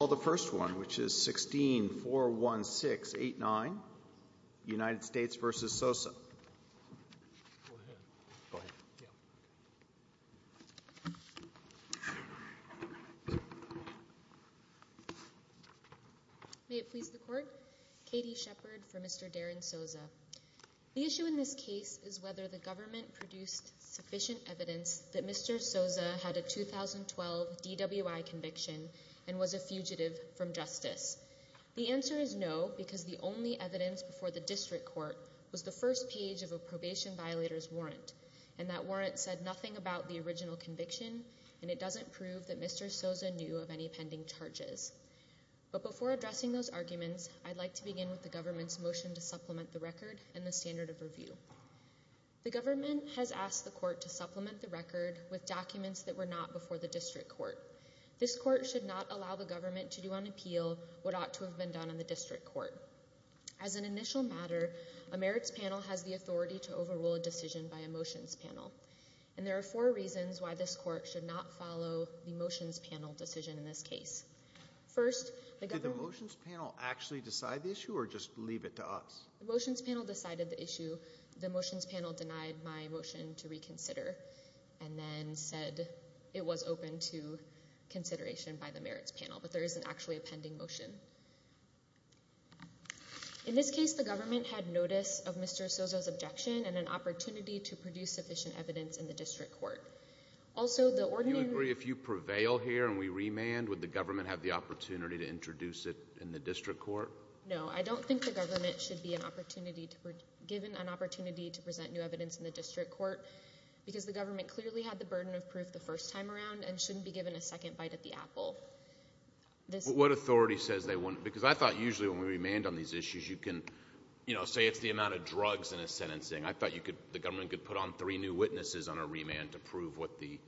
I'll call the first one, which is 16-416-89, United States v. Soza. May it please the Court, Katie Shepard for Mr. Darrin Soza. The issue in this case is whether the government produced sufficient evidence that Mr. Soza had a 2012 DWI conviction and was a fugitive from justice. The answer is no, because the only evidence before the district court was the first page of a probation violator's warrant, and that warrant said nothing about the original conviction, and it doesn't prove that Mr. Soza knew of any pending charges. But before addressing those arguments, I'd like to begin with the government's motion to supplement the record and the standard of review. The government has asked the court to supplement the record with documents that were not before the district court. This court should not allow the government to do on appeal what ought to have been done in the district court. As an initial matter, a merits panel has the authority to overrule a decision by a motions panel, and there are four reasons why this court should not follow the motions panel decision in this case. First, the government— Did the motions panel actually decide the issue, or just leave it to us? The motions panel decided the issue. The motions panel denied my motion to reconsider and then said it was open to consideration by the merits panel, but there isn't actually a pending motion. In this case, the government had notice of Mr. Soza's objection and an opportunity to produce sufficient evidence in the district court. Also, the ordinary— Do you agree if you prevail here and we remand, would the government have the opportunity to introduce it in the district court? No, I don't think the government should be given an opportunity to present new evidence in the district court because the government clearly had the burden of proof the first time around and shouldn't be given a second bite at the apple. What authority says they wouldn't? Because I thought usually when we remand on these issues, you can say it's the amount of drugs in a sentencing. I thought the government could put on three new witnesses on a remand to prove what the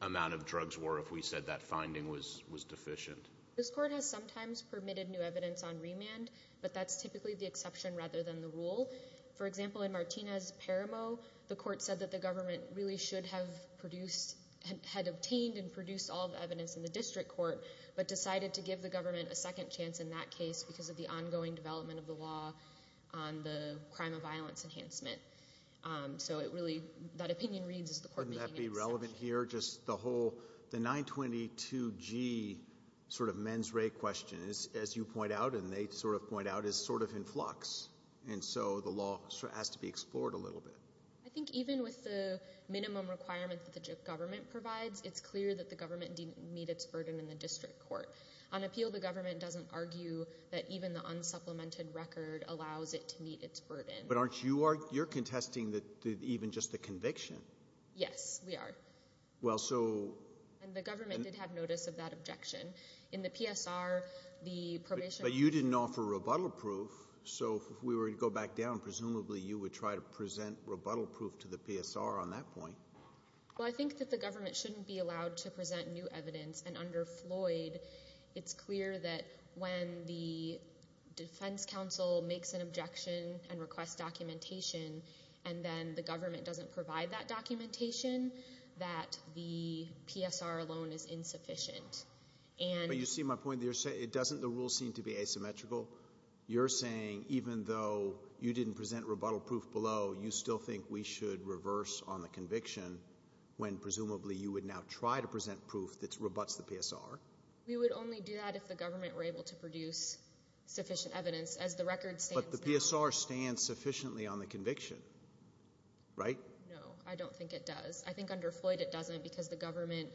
amount of drugs were if we said that finding was deficient. This court has sometimes permitted new evidence on remand, but that's typically the exception rather than the rule. For example, in Martinez-Paramo, the court said that the government really should have produced— had obtained and produced all the evidence in the district court but decided to give the government a second chance in that case because of the ongoing development of the law on the crime of violence enhancement. So it really—that opinion reads as the court making an exception. Just the whole—the 922G sort of men's rate question, as you point out and they sort of point out, is sort of in flux, and so the law has to be explored a little bit. I think even with the minimum requirement that the government provides, it's clear that the government didn't meet its burden in the district court. On appeal, the government doesn't argue that even the unsupplemented record allows it to meet its burden. But aren't you—you're contesting even just the conviction. Yes, we are. Well, so— And the government did have notice of that objection. In the PSR, the probation— But you didn't offer rebuttal proof, so if we were to go back down, presumably you would try to present rebuttal proof to the PSR on that point. Well, I think that the government shouldn't be allowed to present new evidence, and under Floyd, it's clear that when the defense counsel makes an objection and requests documentation and then the government doesn't provide that documentation, that the PSR alone is insufficient. But you see my point there. It doesn't—the rules seem to be asymmetrical. You're saying even though you didn't present rebuttal proof below, you still think we should reverse on the conviction when presumably you would now try to present proof that rebutts the PSR. We would only do that if the government were able to produce sufficient evidence. As the record stands— No, I don't think it does. I think under Floyd it doesn't because the government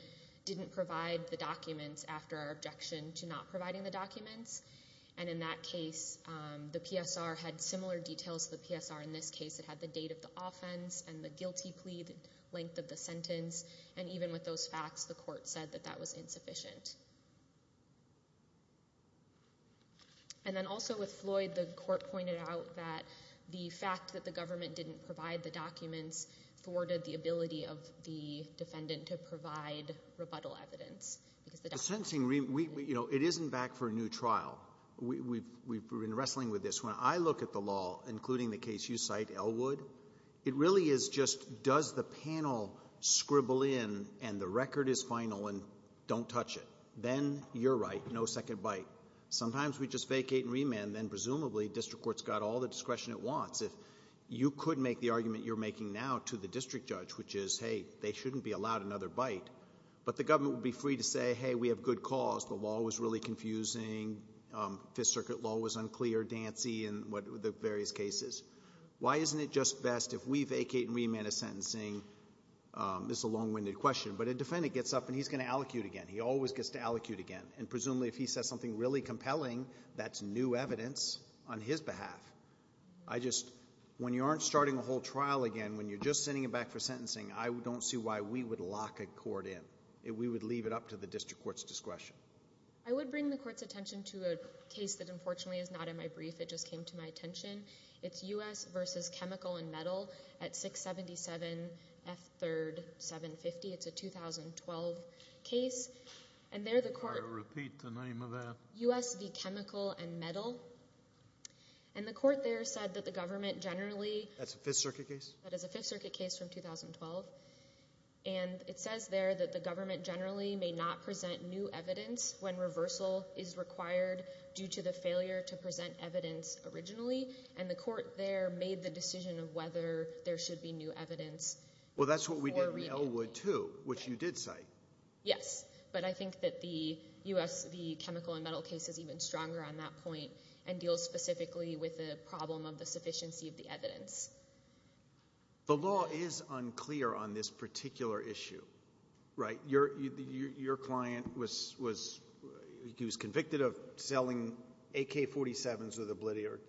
didn't provide the documents after our objection to not providing the documents. And in that case, the PSR had similar details to the PSR in this case. It had the date of the offense and the guilty plea, the length of the sentence. And even with those facts, the court said that that was insufficient. And then also with Floyd, the court pointed out that the fact that the government didn't provide the documents thwarted the ability of the defendant to provide rebuttal evidence. The sentencing—you know, it isn't back for a new trial. We've been wrestling with this. When I look at the law, including the case you cite, Elwood, it really is just does the panel scribble in and the record is final and don't touch it. Then you're right, no second bite. Sometimes we just vacate and remand, and then presumably district court's got all the discretion it wants. If you could make the argument you're making now to the district judge, which is, hey, they shouldn't be allowed another bite, but the government would be free to say, hey, we have good cause. The law was really confusing. Fifth Circuit law was unclear, dancy in the various cases. Why isn't it just best if we vacate and remand a sentencing? This is a long-winded question, but a defendant gets up and he's going to allocute again. He always gets to allocute again. Presumably if he says something really compelling, that's new evidence on his behalf. When you aren't starting a whole trial again, when you're just sending it back for sentencing, I don't see why we would lock a court in. We would leave it up to the district court's discretion. I would bring the court's attention to a case that unfortunately is not in my brief. It just came to my attention. It's U.S. v. Chemical and Metal at 677 F. 3rd 750. It's a 2012 case. I'll repeat the name of that. U.S. v. Chemical and Metal. And the court there said that the government generally— That's a Fifth Circuit case? That is a Fifth Circuit case from 2012. And it says there that the government generally may not present new evidence when reversal is required due to the failure to present evidence originally. And the court there made the decision of whether there should be new evidence. Well, that's what we did in Elwood too, which you did cite. Yes. But I think that the U.S. v. Chemical and Metal case is even stronger on that point and deals specifically with the problem of the sufficiency of the evidence. The law is unclear on this particular issue, right? Your client was convicted of selling AK-47s with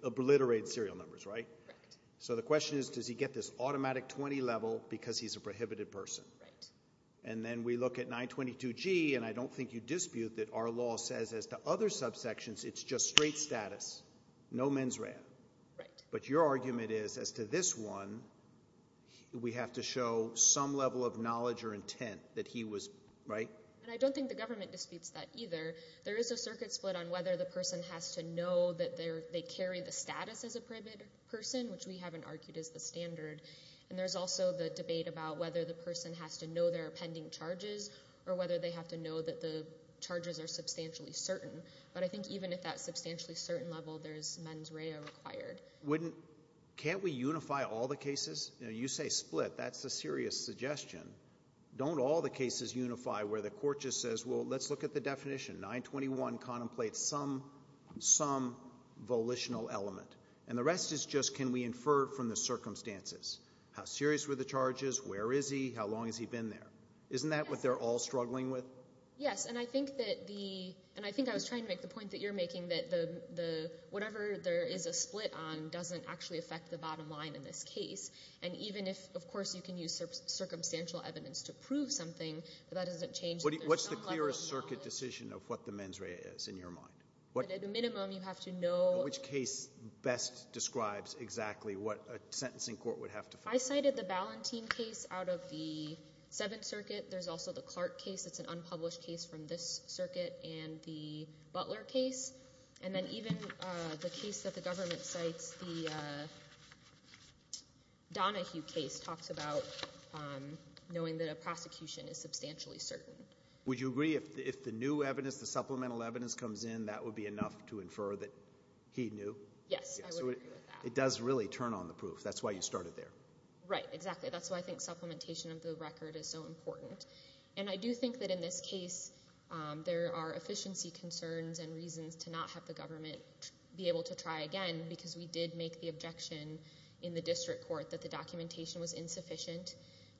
obliterated serial numbers, right? Correct. So the question is, does he get this automatic 20 level because he's a prohibited person? Right. And then we look at 922G, and I don't think you dispute that our law says as to other subsections it's just straight status, no mens rea. Right. But your argument is as to this one, we have to show some level of knowledge or intent that he was—right? And I don't think the government disputes that either. There is a circuit split on whether the person has to know that they carry the status as a prohibited person, which we haven't argued is the standard. And there's also the debate about whether the person has to know there are pending charges or whether they have to know that the charges are substantially certain. But I think even at that substantially certain level, there's mens rea required. Can't we unify all the cases? You say split. That's a serious suggestion. Don't all the cases unify where the court just says, well, let's look at the definition. 921 contemplates some volitional element. And the rest is just can we infer from the circumstances. How serious were the charges? Where is he? How long has he been there? Isn't that what they're all struggling with? Yes, and I think that the—and I think I was trying to make the point that you're making, that whatever there is a split on doesn't actually affect the bottom line in this case. And even if, of course, you can use circumstantial evidence to prove something, that doesn't change that there's some level of knowledge. What's the clearest circuit decision of what the mens rea is in your mind? At a minimum, you have to know— Which case best describes exactly what a sentencing court would have to find? I cited the Ballantine case out of the Seventh Circuit. There's also the Clark case. It's an unpublished case from this circuit and the Butler case. And then even the case that the government cites, the Donahue case, talks about knowing that a prosecution is substantially certain. Would you agree if the new evidence, the supplemental evidence comes in, that would be enough to infer that he knew? Yes, I would agree with that. It does really turn on the proof. That's why you started there. Right, exactly. That's why I think supplementation of the record is so important. And I do think that in this case there are efficiency concerns and reasons to not have the government be able to try again because we did make the objection in the district court that the documentation was insufficient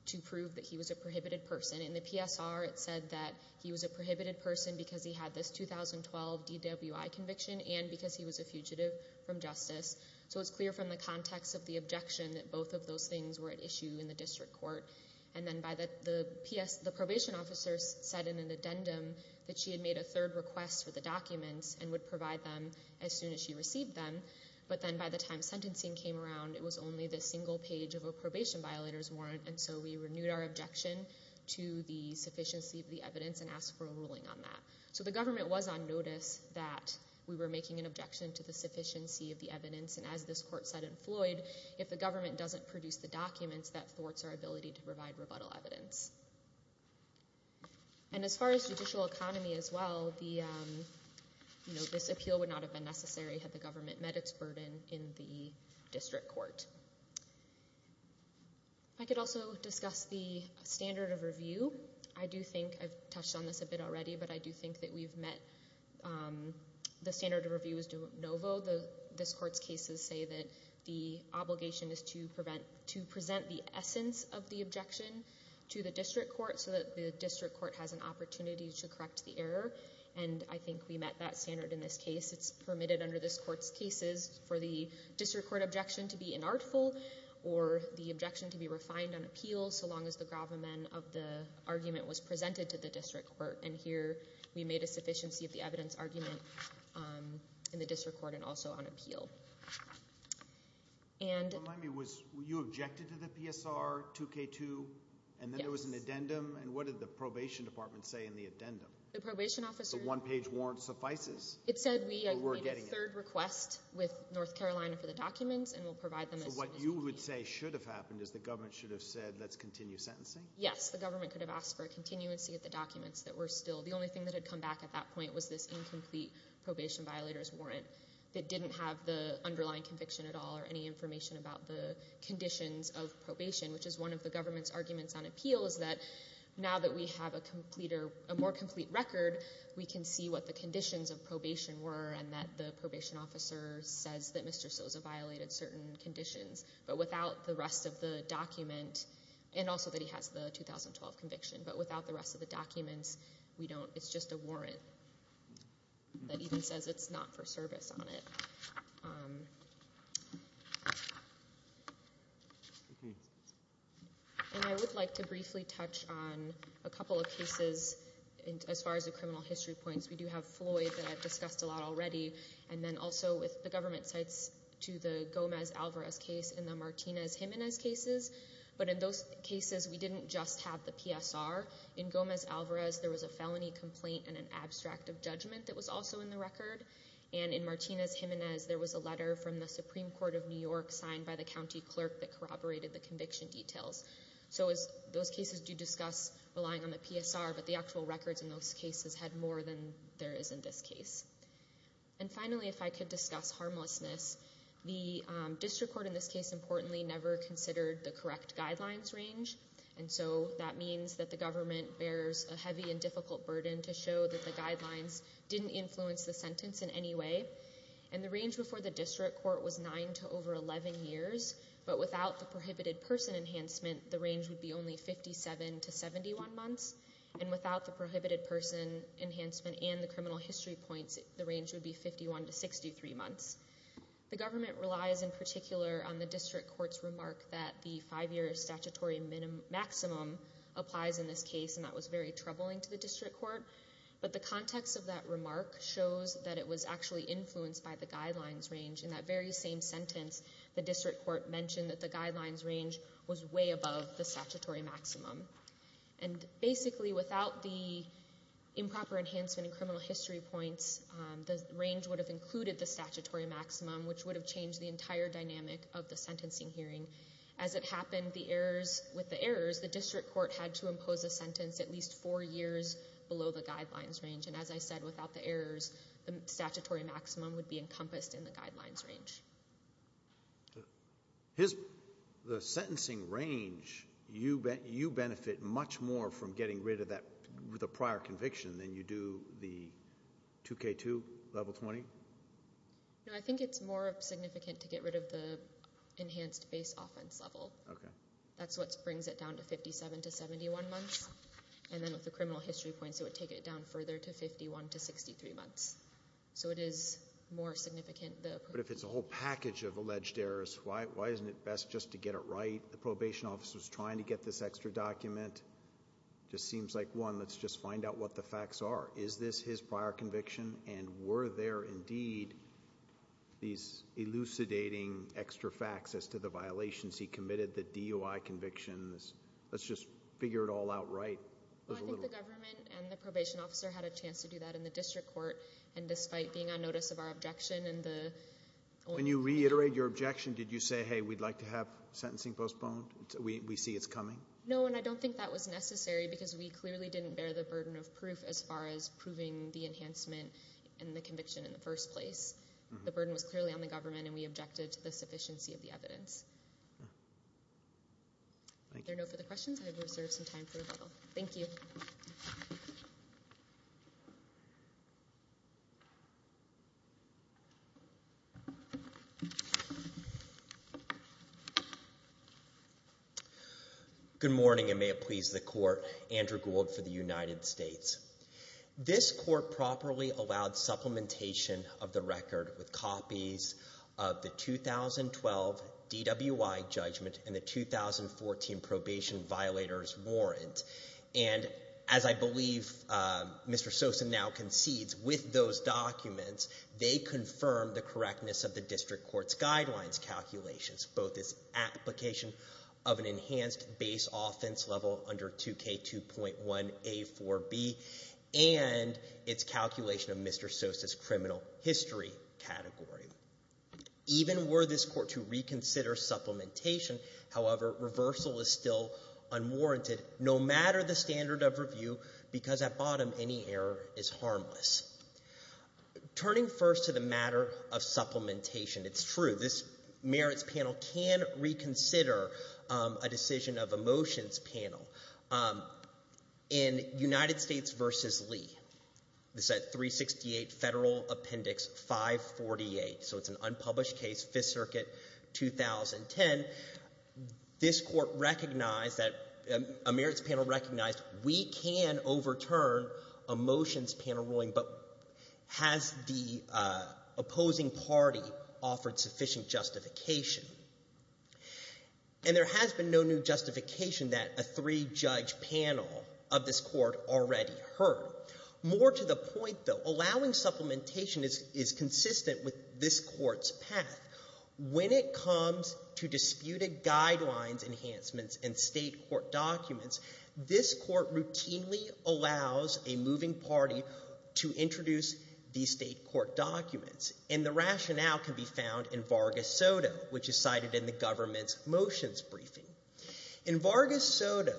to prove that he was a prohibited person. And in the PSR it said that he was a prohibited person because he had this 2012 DWI conviction and because he was a fugitive from justice. So it's clear from the context of the objection that both of those things were at issue in the district court. And then the probation officer said in an addendum that she had made a third request for the documents and would provide them as soon as she received them. But then by the time sentencing came around, it was only the single page of a probation violator's warrant, and so we renewed our objection to the sufficiency of the evidence and asked for a ruling on that. So the government was on notice that we were making an objection to the sufficiency of the evidence, and as this court said in Floyd, if the government doesn't produce the documents, that thwarts our ability to provide rebuttal evidence. And as far as judicial economy as well, this appeal would not have been necessary had the government met its burden in the district court. I could also discuss the standard of review. I do think I've touched on this a bit already, but I do think that we've met the standard of review as de novo. This court's cases say that the obligation is to present the essence of the objection to the district court so that the district court has an opportunity to correct the error, and I think we met that standard in this case. It's permitted under this court's cases for the district court objection to be inartful or the objection to be refined on appeal so long as the gravamen of the argument was presented to the district court, and here we made a sufficiency of the evidence argument in the district court and also on appeal. Remind me, you objected to the PSR 2K2, and then there was an addendum, and what did the probation department say in the addendum? The probation officer... The one-page warrant suffices. It said we made a third request with North Carolina for the documents, and we'll provide them as soon as we can. So what you would say should have happened is the government should have said let's continue sentencing? Yes, the government could have asked for a continuance to get the documents that were still. The only thing that had come back at that point was this incomplete probation violator's warrant that didn't have the underlying conviction at all or any information about the conditions of probation, which is one of the government's arguments on appeal is that now that we have a more complete record, we can see what the conditions of probation were and that the probation officer says that Mr. Sosa violated certain conditions. But without the rest of the document, and also that he has the 2012 conviction, but without the rest of the documents, it's just a warrant that even says it's not for service on it. And I would like to briefly touch on a couple of cases as far as the criminal history points. We do have Floyd that I've discussed a lot already, and then also with the government sites to the Gomez-Alvarez case and the Martinez-Jimenez cases. But in those cases, we didn't just have the PSR. In Gomez-Alvarez, there was a felony complaint and an abstract of judgment that was also in the record. And in Martinez-Jimenez, there was a letter from the Supreme Court of New York signed by the county clerk that corroborated the conviction details. So those cases do discuss relying on the PSR, but the actual records in those cases had more than there is in this case. And finally, if I could discuss harmlessness, the district court in this case, importantly, never considered the correct guidelines range. And so that means that the government bears a heavy and difficult burden to show that the guidelines didn't influence the sentence in any way. And the range before the district court was 9 to over 11 years. But without the prohibited person enhancement, the range would be only 57 to 71 months. And without the prohibited person enhancement and the criminal history points, the range would be 51 to 63 months. The government relies in particular on the district court's remark that the five-year statutory maximum applies in this case, and that was very troubling to the district court. But the context of that remark shows that it was actually influenced by the guidelines range. In that very same sentence, the district court mentioned that the guidelines range was way above the statutory maximum. And basically, without the improper enhancement and criminal history points, the range would have included the statutory maximum, which would have changed the entire dynamic of the sentencing hearing. As it happened, with the errors, the district court had to impose a sentence at least four years below the guidelines range. And as I said, without the errors, the statutory maximum would be encompassed in the guidelines range. The sentencing range, you benefit much more from getting rid of that with a prior conviction than you do the 2K2 level 20? No, I think it's more significant to get rid of the enhanced base offense level. Okay. That's what brings it down to 57 to 71 months. And then with the criminal history points, it would take it down further to 51 to 63 months. So it is more significant. But if it's a whole package of alleged errors, why isn't it best just to get it right? The probation officer's trying to get this extra document. It just seems like, one, let's just find out what the facts are. Is this his prior conviction? And were there indeed these elucidating extra facts as to the violations he committed, the DOI convictions? Let's just figure it all out right. Well, I think the government and the probation officer had a chance to do that in the district court. And despite being on notice of our objection and the... When you reiterate your objection, did you say, hey, we'd like to have sentencing postponed? We see it's coming? No, and I don't think that was necessary because we clearly didn't bear the burden of proof as far as proving the enhancement and the conviction in the first place. The burden was clearly on the government, and we objected to the sufficiency of the evidence. Is there a no for the questions? I have reserved some time for rebuttal. Thank you. Good morning, and may it please the court. Andrew Gould for the United States. This court properly allowed supplementation of the record with copies of the 2012 DWI judgment and the 2014 probation violator's warrant. And as I believe Mr. Sosa now concedes, with those documents, they confirm the correctness of the district court's guidelines calculations, both its application of an enhanced base offense level under 2K2.1A4B and its calculation of Mr. Sosa's criminal history category. Even were this court to reconsider supplementation, however, reversal is still unwarranted no matter the standard of review because at bottom any error is harmless. Turning first to the matter of supplementation, it's true. This merits panel can reconsider a decision of emotions panel. In United States v. Lee, this is at 368 Federal Appendix 548, so it's an unpublished case, Fifth Circuit, 2010, this court recognized that a merits panel recognized we can overturn emotions panel ruling, but has the opposing party offered sufficient justification? And there has been no new justification that a three-judge panel of this court already heard. More to the point, though, allowing supplementation is consistent with this court's path. When it comes to disputed guidelines enhancements and state court documents, this court routinely allows a moving party to introduce these state court documents, and the rationale can be found in Vargas Soto, which is cited in the government's motions briefing. In Vargas Soto,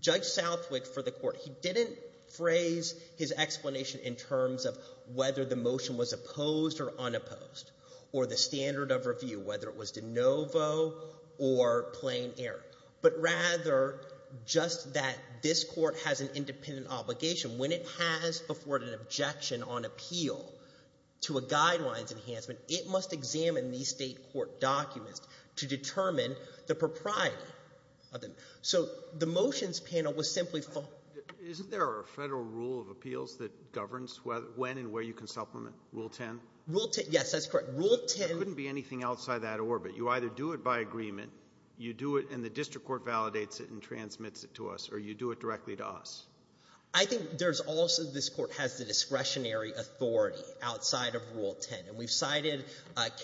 Judge Southwick for the court, he didn't phrase his explanation in terms of whether the motion was opposed or unopposed or the standard of review, whether it was de novo or plain error, but rather just that this court has an independent obligation. When it has afforded an objection on appeal to a guidelines enhancement, it must examine these state court documents to determine the propriety of them. So the motions panel was simply... Isn't there a Federal rule of appeals that governs when and where you can supplement, Rule 10? Rule 10, yes, that's correct. Rule 10... You either do it by that orbit, you either do it by agreement, you do it and the district court validates it and transmits it to us, or you do it directly to us. I think there's also... This court has the discretionary authority outside of Rule 10, and we've cited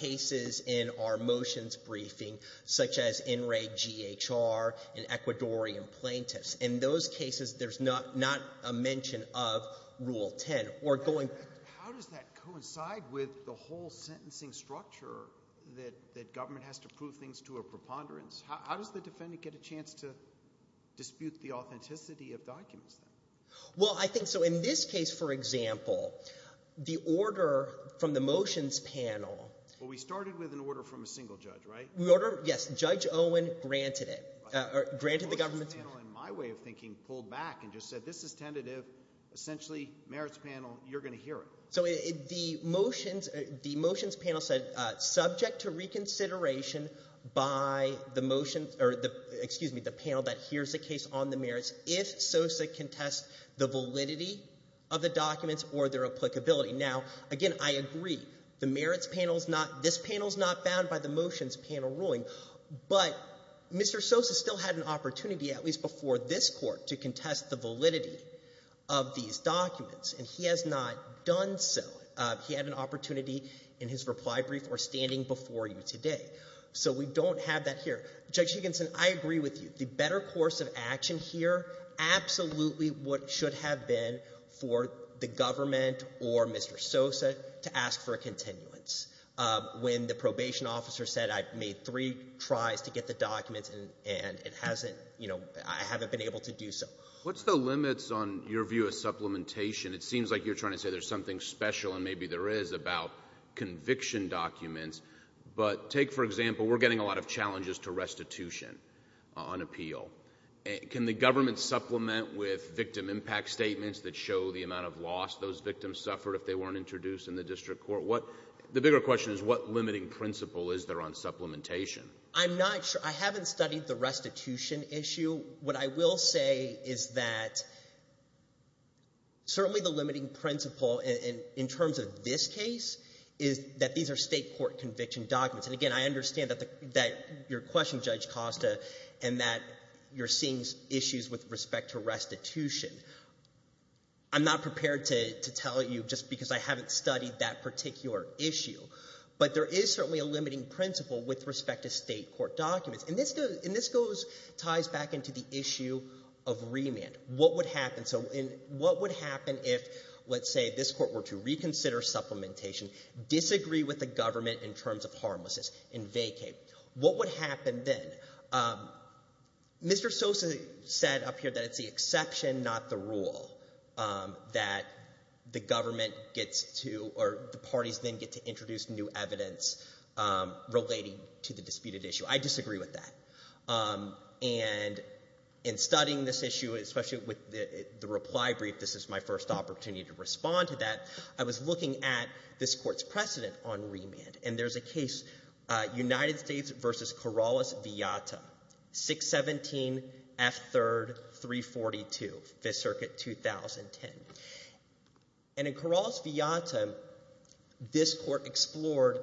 cases in our motions briefing such as In re G.H.R. and Ecuadorian plaintiffs. In those cases, there's not a mention of Rule 10 or going... How does that coincide with the whole sentencing structure that government has to prove things to a preponderance? How does the defendant get a chance to dispute the authenticity of documents, then? Well, I think, so in this case, for example, the order from the motions panel... Well, we started with an order from a single judge, right? Yes, Judge Owen granted it, granted the government's... The motions panel, in my way of thinking, pulled back and just said, this is tentative, essentially, merits panel, you're going to hear it. So the motions panel said, subject to reconsideration by the motions... Excuse me, the panel that hears the case on the merits, if SOSA can test the validity of the documents or their applicability. Now, again, I agree, the merits panel's not... This panel's not bound by the motions panel ruling, but Mr. SOSA still had an opportunity, at least before this court, to contest the validity of these documents, and he has not done so. He had an opportunity in his reply brief or standing before you today. So we don't have that here. Judge Higginson, I agree with you. The better course of action here, absolutely what should have been for the government or Mr. SOSA to ask for a continuance. When the probation officer said, I've made three tries to get the documents and it hasn't... I haven't been able to do so. What's the limits on your view of supplementation? It seems like you're trying to say there's something special, and maybe there is, about conviction documents. But take, for example, we're getting a lot of challenges to restitution on appeal. Can the government supplement with victim impact statements that show the amount of loss those victims suffered if they weren't introduced in the district court? The bigger question is, what limiting principle is there on supplementation? I'm not sure. I haven't studied the restitution issue. What I will say is that certainly the limiting principle in terms of this case is that these are state court conviction documents. And again, I understand that your question, Judge Costa, and that you're seeing issues with respect to restitution. I'm not prepared to tell you just because I haven't studied that particular issue. But there is certainly a limiting principle with respect to state court documents. And this ties back into the issue of remand. What would happen if, let's say, this court were to reconsider supplementation, disagree with the government in terms of harmlessness, and vacate? What would happen then? Mr. Sosa said up here that it's the exception, not the rule, that the government gets to or the parties then get to introduce new evidence relating to the disputed issue. I disagree with that. And in studying this issue, especially with the reply brief, this is my first opportunity to respond to that, I was looking at this court's precedent on remand. And there's a case, United States v. Corrales-Villata, 617 F. 3rd, 342, 5th Circuit, 2010. And in Corrales-Villata, this court explored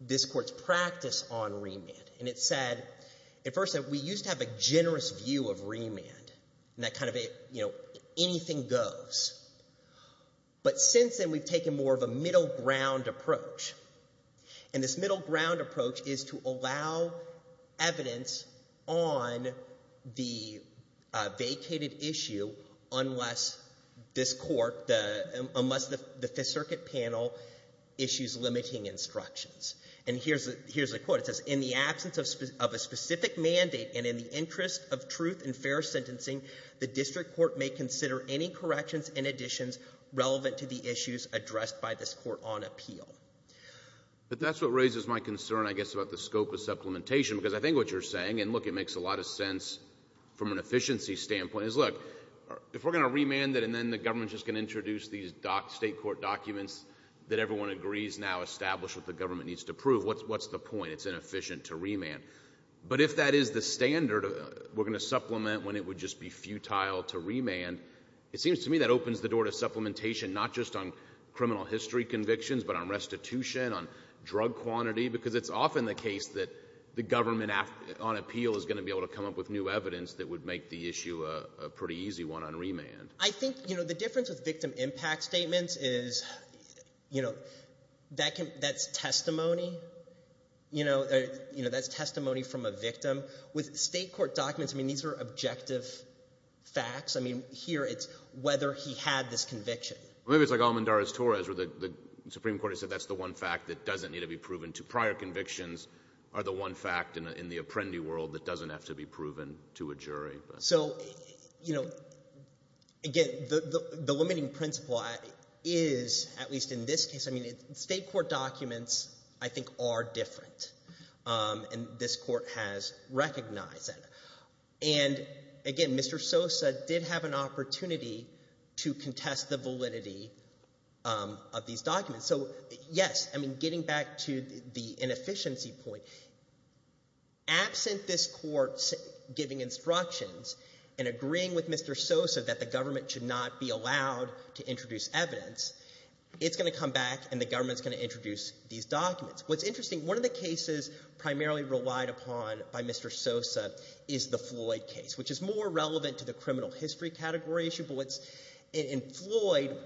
this court's practice on remand. And it said, it first said, we used to have a generous view of remand, and that kind of, you know, anything goes. But since then, we've taken more of a middle ground approach. And this middle ground approach is to allow evidence on the vacated issue unless this court, unless the 5th Circuit panel issues limiting instructions. And here's a quote, it says, in the absence of a specific mandate and in the interest of truth and fair sentencing, the district court may consider any corrections and additions relevant to the issues addressed by this court on appeal. But that's what raises my concern, I guess, about the scope of supplementation, because I think what you're saying, and, look, it makes a lot of sense from an efficiency standpoint, is, look, if we're going to remand it and then the government's just going to introduce these state court documents that everyone agrees now establish what the government needs to prove, what's the point? It's inefficient to remand. But if that is the standard we're going to supplement when it would just be futile to remand, it seems to me that opens the door to supplementation not just on criminal history convictions, but on restitution, on drug quantity, because it's often the case that the government on appeal is going to be able to come up with new evidence that would make the issue a pretty easy one on remand. I think, you know, the difference with victim impact statements is, you know, that's testimony. You know, that's testimony from a victim. With state court documents, I mean, these are objective facts. I mean, here it's whether he had this conviction. Maybe it's like Almendarez-Torres where the Supreme Court has said that's the one fact that doesn't need to be proven. Prior convictions are the one fact in the apprendee world that doesn't have to be proven to a jury. So, you know, again, the limiting principle is, at least in this case, I mean, state court documents, I think, are different, and this court has recognized that. And, again, Mr. Sosa did have an opportunity to contest the validity of these documents. So, yes, I mean, getting back to the inefficiency point, absent this court giving instructions and agreeing with Mr. Sosa that the government should not be allowed to introduce evidence, it's going to come back and the government is going to introduce these documents. What's interesting, one of the cases primarily relied upon by Mr. Sosa is the Floyd case, which is more relevant to the criminal history category issue. But in Floyd,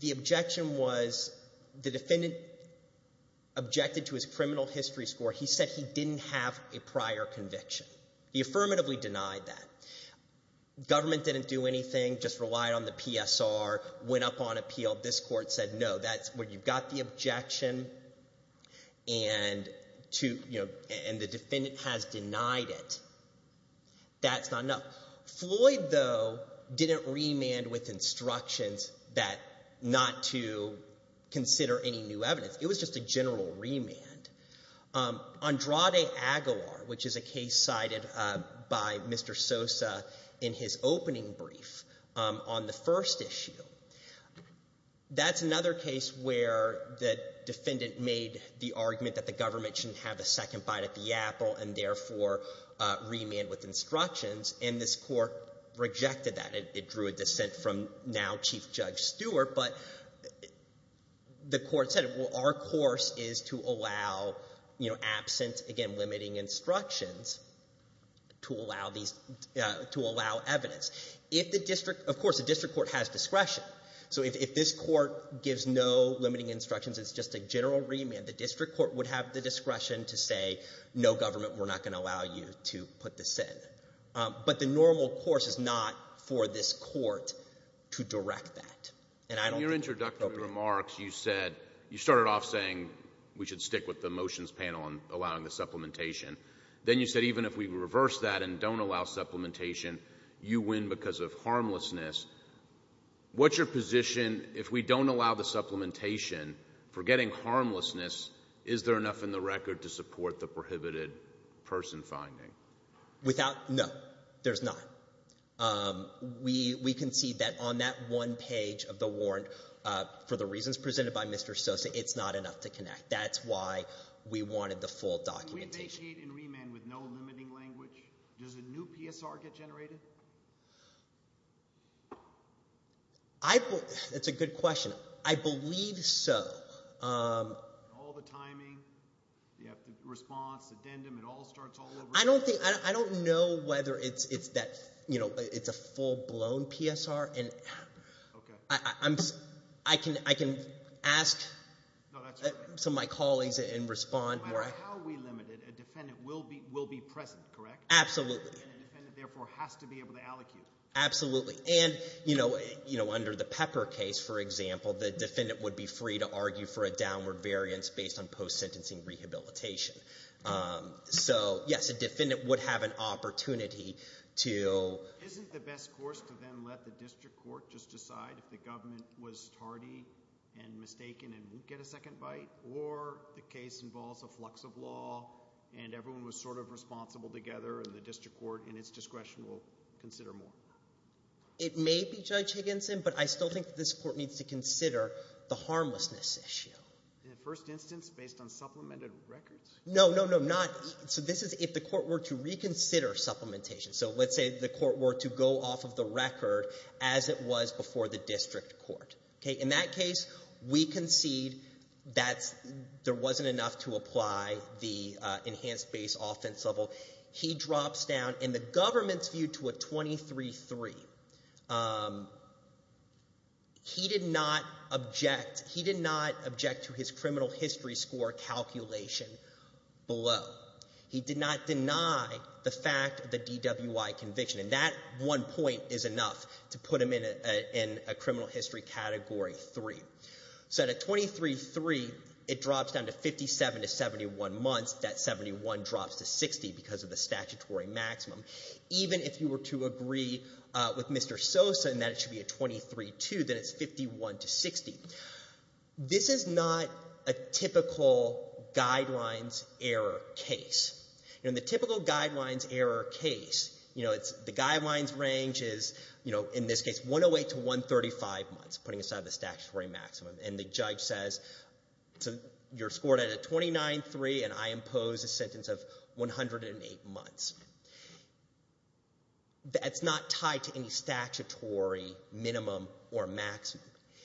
the objection was the defendant objected to his criminal history score. He said he didn't have a prior conviction. He affirmatively denied that. Government didn't do anything, just relied on the PSR, went up on appeal. This court said, no, that's where you've got the objection and to, you know, and the defendant has denied it. That's not enough. Floyd, though, didn't remand with instructions that not to consider any new evidence. It was just a general remand. Andrade Aguilar, which is a case cited by Mr. Sosa in his opening brief on the first issue, that's another case where the defendant made the argument that the government should have a second bite at the apple and therefore remand with instructions, and this court rejected that. It drew a dissent from now Chief Judge Stewart. But the court said, well, our course is to allow, you know, absent, again, limiting instructions to allow evidence. Of course, the district court has discretion. So if this court gives no limiting instructions, it's just a general remand, the district court would have the discretion to say, no, government, we're not going to allow you to put this in. But the normal course is not for this court to direct that. In your introductory remarks, you said, you started off saying we should stick with the motions panel on allowing the supplementation. Then you said even if we reverse that and don't allow supplementation, you win because of harmlessness. What's your position if we don't allow the supplementation for getting harmlessness, is there enough in the record to support the prohibited person finding? Without, no, there's not. We concede that on that one page of the warrant, for the reasons presented by Mr. Sosa, it's not enough to connect. That's why we wanted the full documentation. When we vacate and remand with no limiting language, does a new PSR get generated? That's a good question. I believe so. All the timing, you have the response, addendum, it all starts all over again. I don't know whether it's a full-blown PSR. I can ask some of my colleagues and respond. No matter how we limit it, a defendant will be present, correct? Absolutely. And a defendant therefore has to be able to allocate. Absolutely. And under the Pepper case, for example, the defendant would be free to argue for a downward variance based on post-sentencing rehabilitation. So, yes, a defendant would have an opportunity to… Isn't the best course to then let the district court just decide if the government was tardy and mistaken and won't get a second bite? Or the case involves a flux of law and everyone was sort of responsible together and the district court in its discretion will consider more? It may be, Judge Higginson, but I still think this court needs to consider the harmlessness issue. In the first instance, based on supplemented records? No, no, no, not… So this is if the court were to reconsider supplementation. So let's say the court were to go off of the record as it was before the district court. In that case, we concede that there wasn't enough to apply the enhanced base offense level. He drops down and the government's view to a 23-3. He did not object. He did not object to his criminal history score calculation below. He did not deny the fact of the DWI conviction. And that one point is enough to put him in a criminal history category three. So at a 23-3, it drops down to 57 to 71 months. That 71 drops to 60 because of the statutory maximum. Even if you were to agree with Mr. Sosa that it should be a 23-2, then it's 51 to 60. This is not a typical guidelines error case. In the typical guidelines error case, the guidelines range is, in this case, 108 to 135 months, putting aside the statutory maximum. And the judge says, you're scored at a 29-3, and I impose a sentence of 108 months. That's not tied to any statutory minimum or maximum.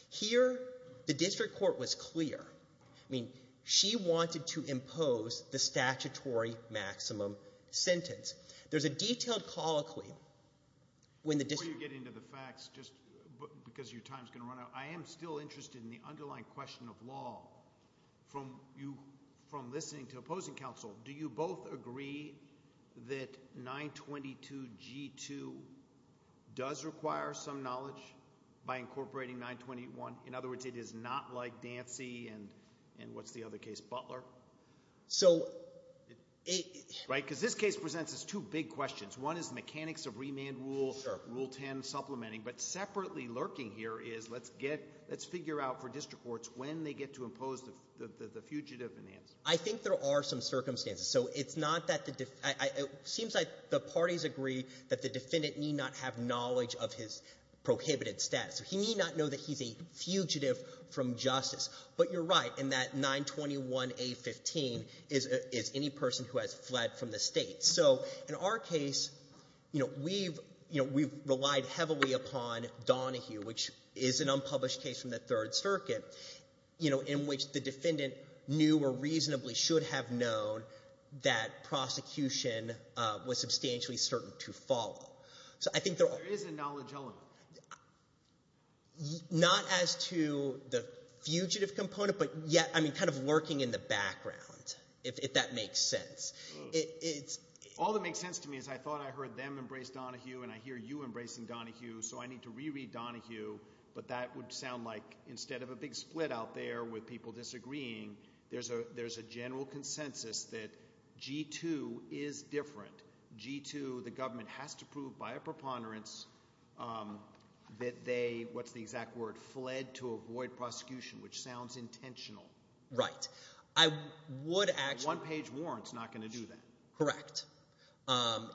Here, the district court was clear. I mean, she wanted to impose the statutory maximum sentence. There's a detailed colloquy when the district court— Before you get into the facts, just because your time's going to run out, I am still interested in the underlying question of law. From listening to opposing counsel, do you both agree that 922G2 does require some knowledge by incorporating 921? In other words, it is not like Dancy and what's the other case, Butler? Because this case presents us two big questions. One is the mechanics of remand rule, Rule 10 supplementing. But separately lurking here is let's get—let's figure out for district courts when they get to impose the fugitive in answer. I think there are some circumstances. So it's not that the—it seems like the parties agree that the defendant need not have knowledge of his prohibited status. He need not know that he's a fugitive from justice. But you're right in that 921A15 is any person who has fled from the state. So in our case, we've relied heavily upon Donahue, which is an unpublished case from the Third Circuit, in which the defendant knew or reasonably should have known that prosecution was substantially certain to follow. So I think there are— There is a knowledge element. Not as to the fugitive component, but yet kind of lurking in the background, if that makes sense. All that makes sense to me is I thought I heard them embrace Donahue, and I hear you embracing Donahue, so I need to reread Donahue. But that would sound like instead of a big split out there with people disagreeing, there's a general consensus that G2 is different. G2, the government has to prove by a preponderance that they—what's the exact word? Fled to avoid prosecution, which sounds intentional. Right. I would actually— Correct.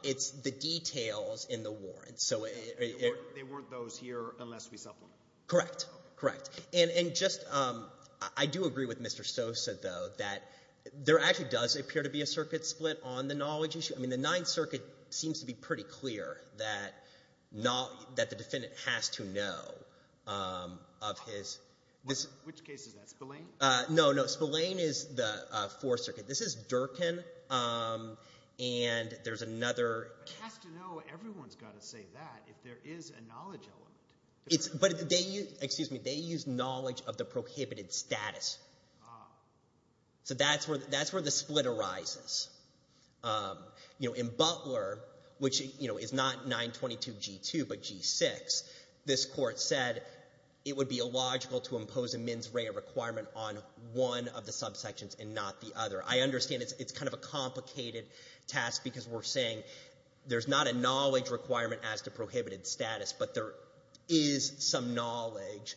It's the details in the warrants. They weren't those here unless we supplement. Correct. Correct. And just—I do agree with Mr. Sosa, though, that there actually does appear to be a circuit split on the knowledge issue. I mean the Ninth Circuit seems to be pretty clear that the defendant has to know of his— Which case is that, Spillane? No, no. Spillane is the Fourth Circuit. This is Durkin, and there's another— But he has to know. Everyone's got to say that if there is a knowledge element. But they use—excuse me. They use knowledge of the prohibited status. So that's where the split arises. In Butler, which is not 922 G2 but G6, this court said it would be illogical to impose a mens rea requirement on one of the subsections and not the other. I understand it's kind of a complicated task because we're saying there's not a knowledge requirement as to prohibited status, but there is some knowledge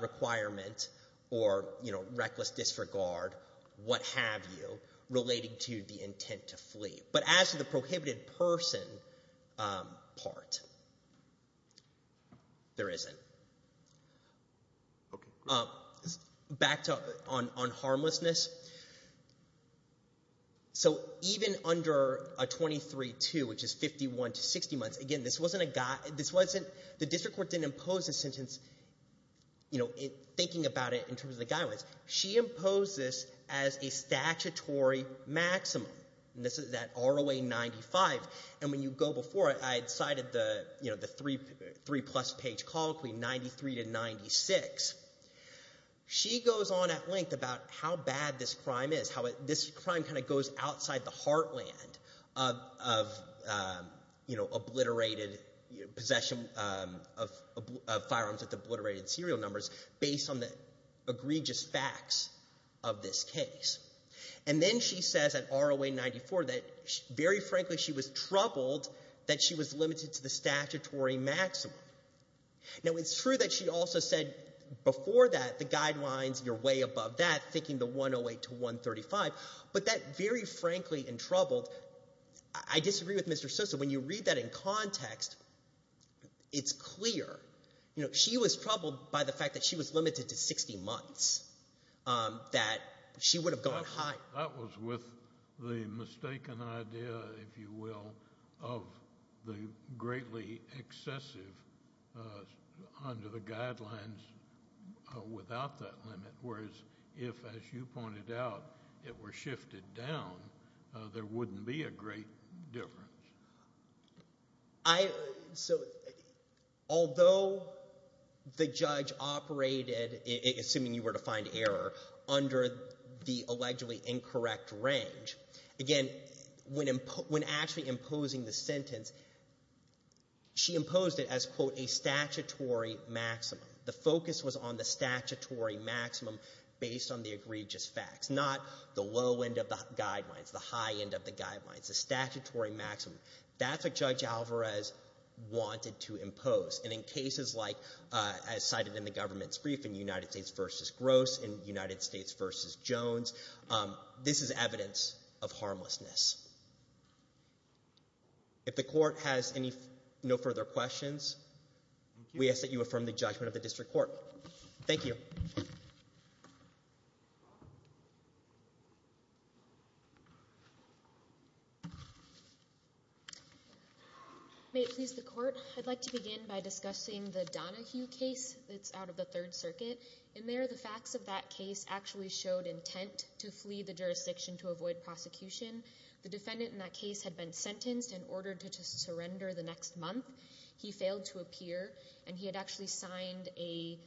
requirement or reckless disregard, what have you, relating to the intent to flee. But as to the prohibited person part, there isn't. Okay, great. Back to—on harmlessness. So even under a 23-2, which is 51 to 60 months, again, this wasn't a—this wasn't—the district court didn't impose this sentence thinking about it in terms of the guidelines. She imposed this as a statutory maximum, and this is that ROA 95. And when you go before it, I cited the three-plus page colloquy, 93 to 96. She goes on at length about how bad this crime is, how this crime kind of goes outside the heartland of obliterated possession of firearms at the obliterated serial numbers based on the egregious facts of this case. And then she says at ROA 94 that very frankly she was troubled that she was limited to the statutory maximum. Now, it's true that she also said before that the guidelines, you're way above that, thinking the 108 to 135, but that very frankly and troubled—I disagree with Mr. Sosa. So when you read that in context, it's clear. She was troubled by the fact that she was limited to 60 months, that she would have gone higher. That was with the mistaken idea, if you will, of the greatly excessive under the guidelines without that limit, whereas if, as you pointed out, it were shifted down, there wouldn't be a great difference. So although the judge operated, assuming you were to find error, under the allegedly incorrect range, again, when actually imposing the sentence, she imposed it as, quote, a statutory maximum. The focus was on the statutory maximum based on the egregious facts, not the low end of the guidelines, the high end of the guidelines, the statutory maximum. That's what Judge Alvarez wanted to impose. And in cases like as cited in the government's brief, in United States v. Gross, in United States v. Jones, this is evidence of harmlessness. If the court has no further questions, we ask that you affirm the judgment of the district court. Thank you. May it please the court, I'd like to begin by discussing the Donahue case that's out of the Third Circuit. In there, the facts of that case actually showed intent to flee the jurisdiction to avoid prosecution. The defendant in that case had been sentenced and ordered to surrender the next month. He failed to appear, and he had actually signed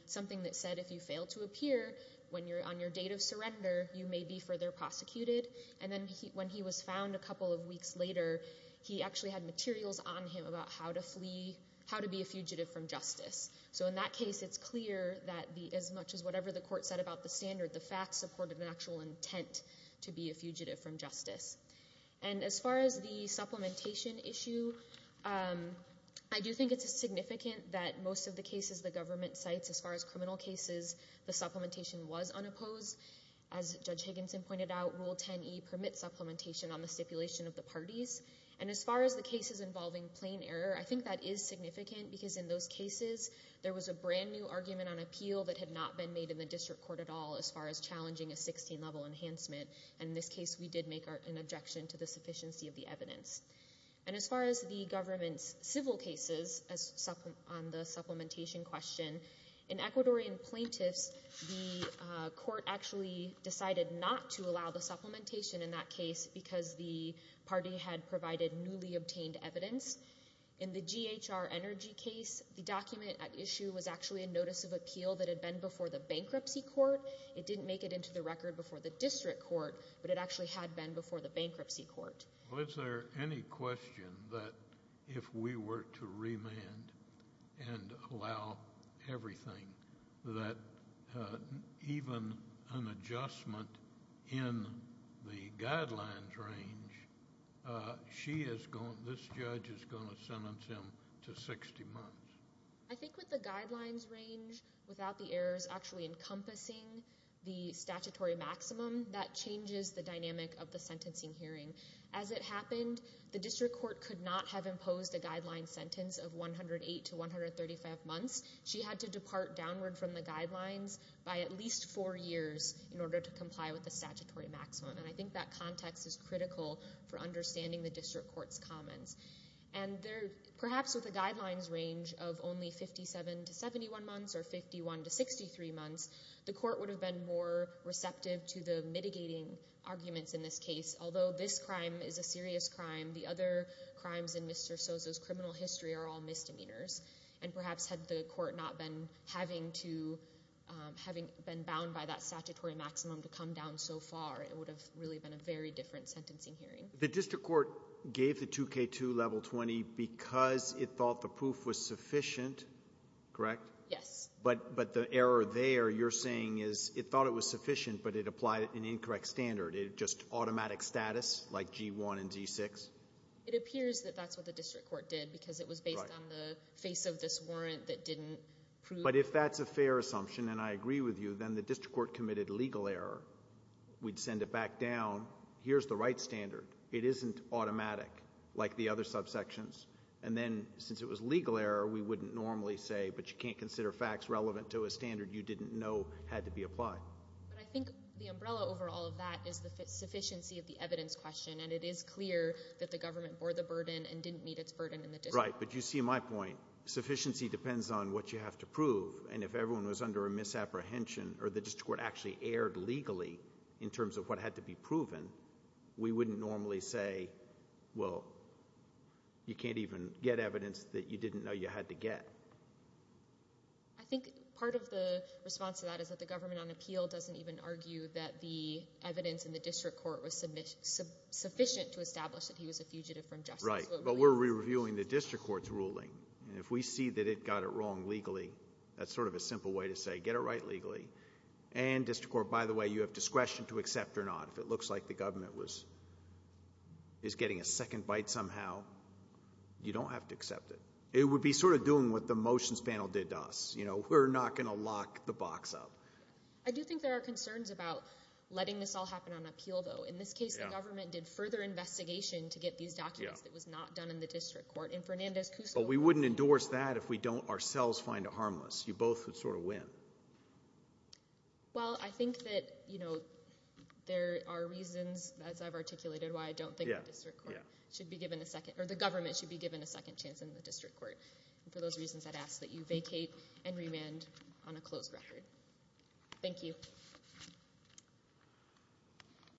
something that said if you fail to appear on your date of surrender, you may be further prosecuted. And then when he was found a couple of weeks later, he actually had materials on him about how to flee, how to be a fugitive from justice. So in that case, it's clear that as much as whatever the court said about the standard, the facts supported an actual intent to be a fugitive from justice. And as far as the supplementation issue, I do think it's significant that most of the cases the government cites, as far as criminal cases, the supplementation was unopposed. As Judge Higginson pointed out, Rule 10e permits supplementation on the stipulation of the parties. And as far as the cases involving plain error, I think that is significant because in those cases, there was a brand new argument on appeal that had not been made in the district court at all as far as challenging a 16-level enhancement. And in this case, we did make an objection to the sufficiency of the evidence. And as far as the government's civil cases on the supplementation question, in Ecuadorian plaintiffs, the court actually decided not to allow the supplementation in that case because the party had provided newly obtained evidence. In the GHR Energy case, the document at issue was actually a notice of appeal that had been before the bankruptcy court. It didn't make it into the record before the district court, but it actually had been before the bankruptcy court. Well, is there any question that if we were to remand and allow everything, that even an adjustment in the guidelines range, this judge is going to sentence him to 60 months? I think with the guidelines range, without the errors actually encompassing the statutory maximum, that changes the dynamic of the sentencing hearing. As it happened, the district court could not have imposed a guideline sentence of 108 to 135 months. She had to depart downward from the guidelines by at least four years in order to comply with the statutory maximum. And I think that context is critical for understanding the district court's comments. And perhaps with a guidelines range of only 57 to 71 months or 51 to 63 months, the court would have been more receptive to the mitigating arguments in this case. Although this crime is a serious crime, the other crimes in Mr. Soso's criminal history are all misdemeanors. And perhaps had the court not been bound by that statutory maximum to come down so far, it would have really been a very different sentencing hearing. The district court gave the 2K2 level 20 because it thought the proof was sufficient, correct? Yes. But the error there you're saying is it thought it was sufficient, but it applied an incorrect standard, just automatic status like G1 and G6? It appears that that's what the district court did because it was based on the face of this warrant that didn't prove— But if that's a fair assumption, and I agree with you, then the district court committed legal error. We'd send it back down, here's the right standard. It isn't automatic like the other subsections. And then since it was legal error, we wouldn't normally say, but you can't consider facts relevant to a standard you didn't know had to be applied. But I think the umbrella over all of that is the sufficiency of the evidence question. And it is clear that the government bore the burden and didn't meet its burden in the district court. Right. But you see my point. Sufficiency depends on what you have to prove. And if everyone was under a misapprehension or the district court actually erred legally in terms of what had to be proven, we wouldn't normally say, well, you can't even get evidence that you didn't know you had to get. I think part of the response to that is that the government on appeal doesn't even argue that the evidence in the district court was sufficient to establish that he was a fugitive from justice. Right. But we're reviewing the district court's ruling. And if we see that it got it wrong legally, that's sort of a simple way to say get it right legally. And district court, by the way, you have discretion to accept or not. If it looks like the government is getting a second bite somehow, you don't have to accept it. It would be sort of doing what the motions panel did to us. We're not going to lock the box up. I do think there are concerns about letting this all happen on appeal, though. In this case, the government did further investigation to get these documents that was not done in the district court. But we wouldn't endorse that if we don't ourselves find it harmless. You both would sort of win. Well, I think that there are reasons, as I've articulated, why I don't think the government should be given a second chance in the district court. And for those reasons, I'd ask that you vacate and remand on a closed record. Thank you.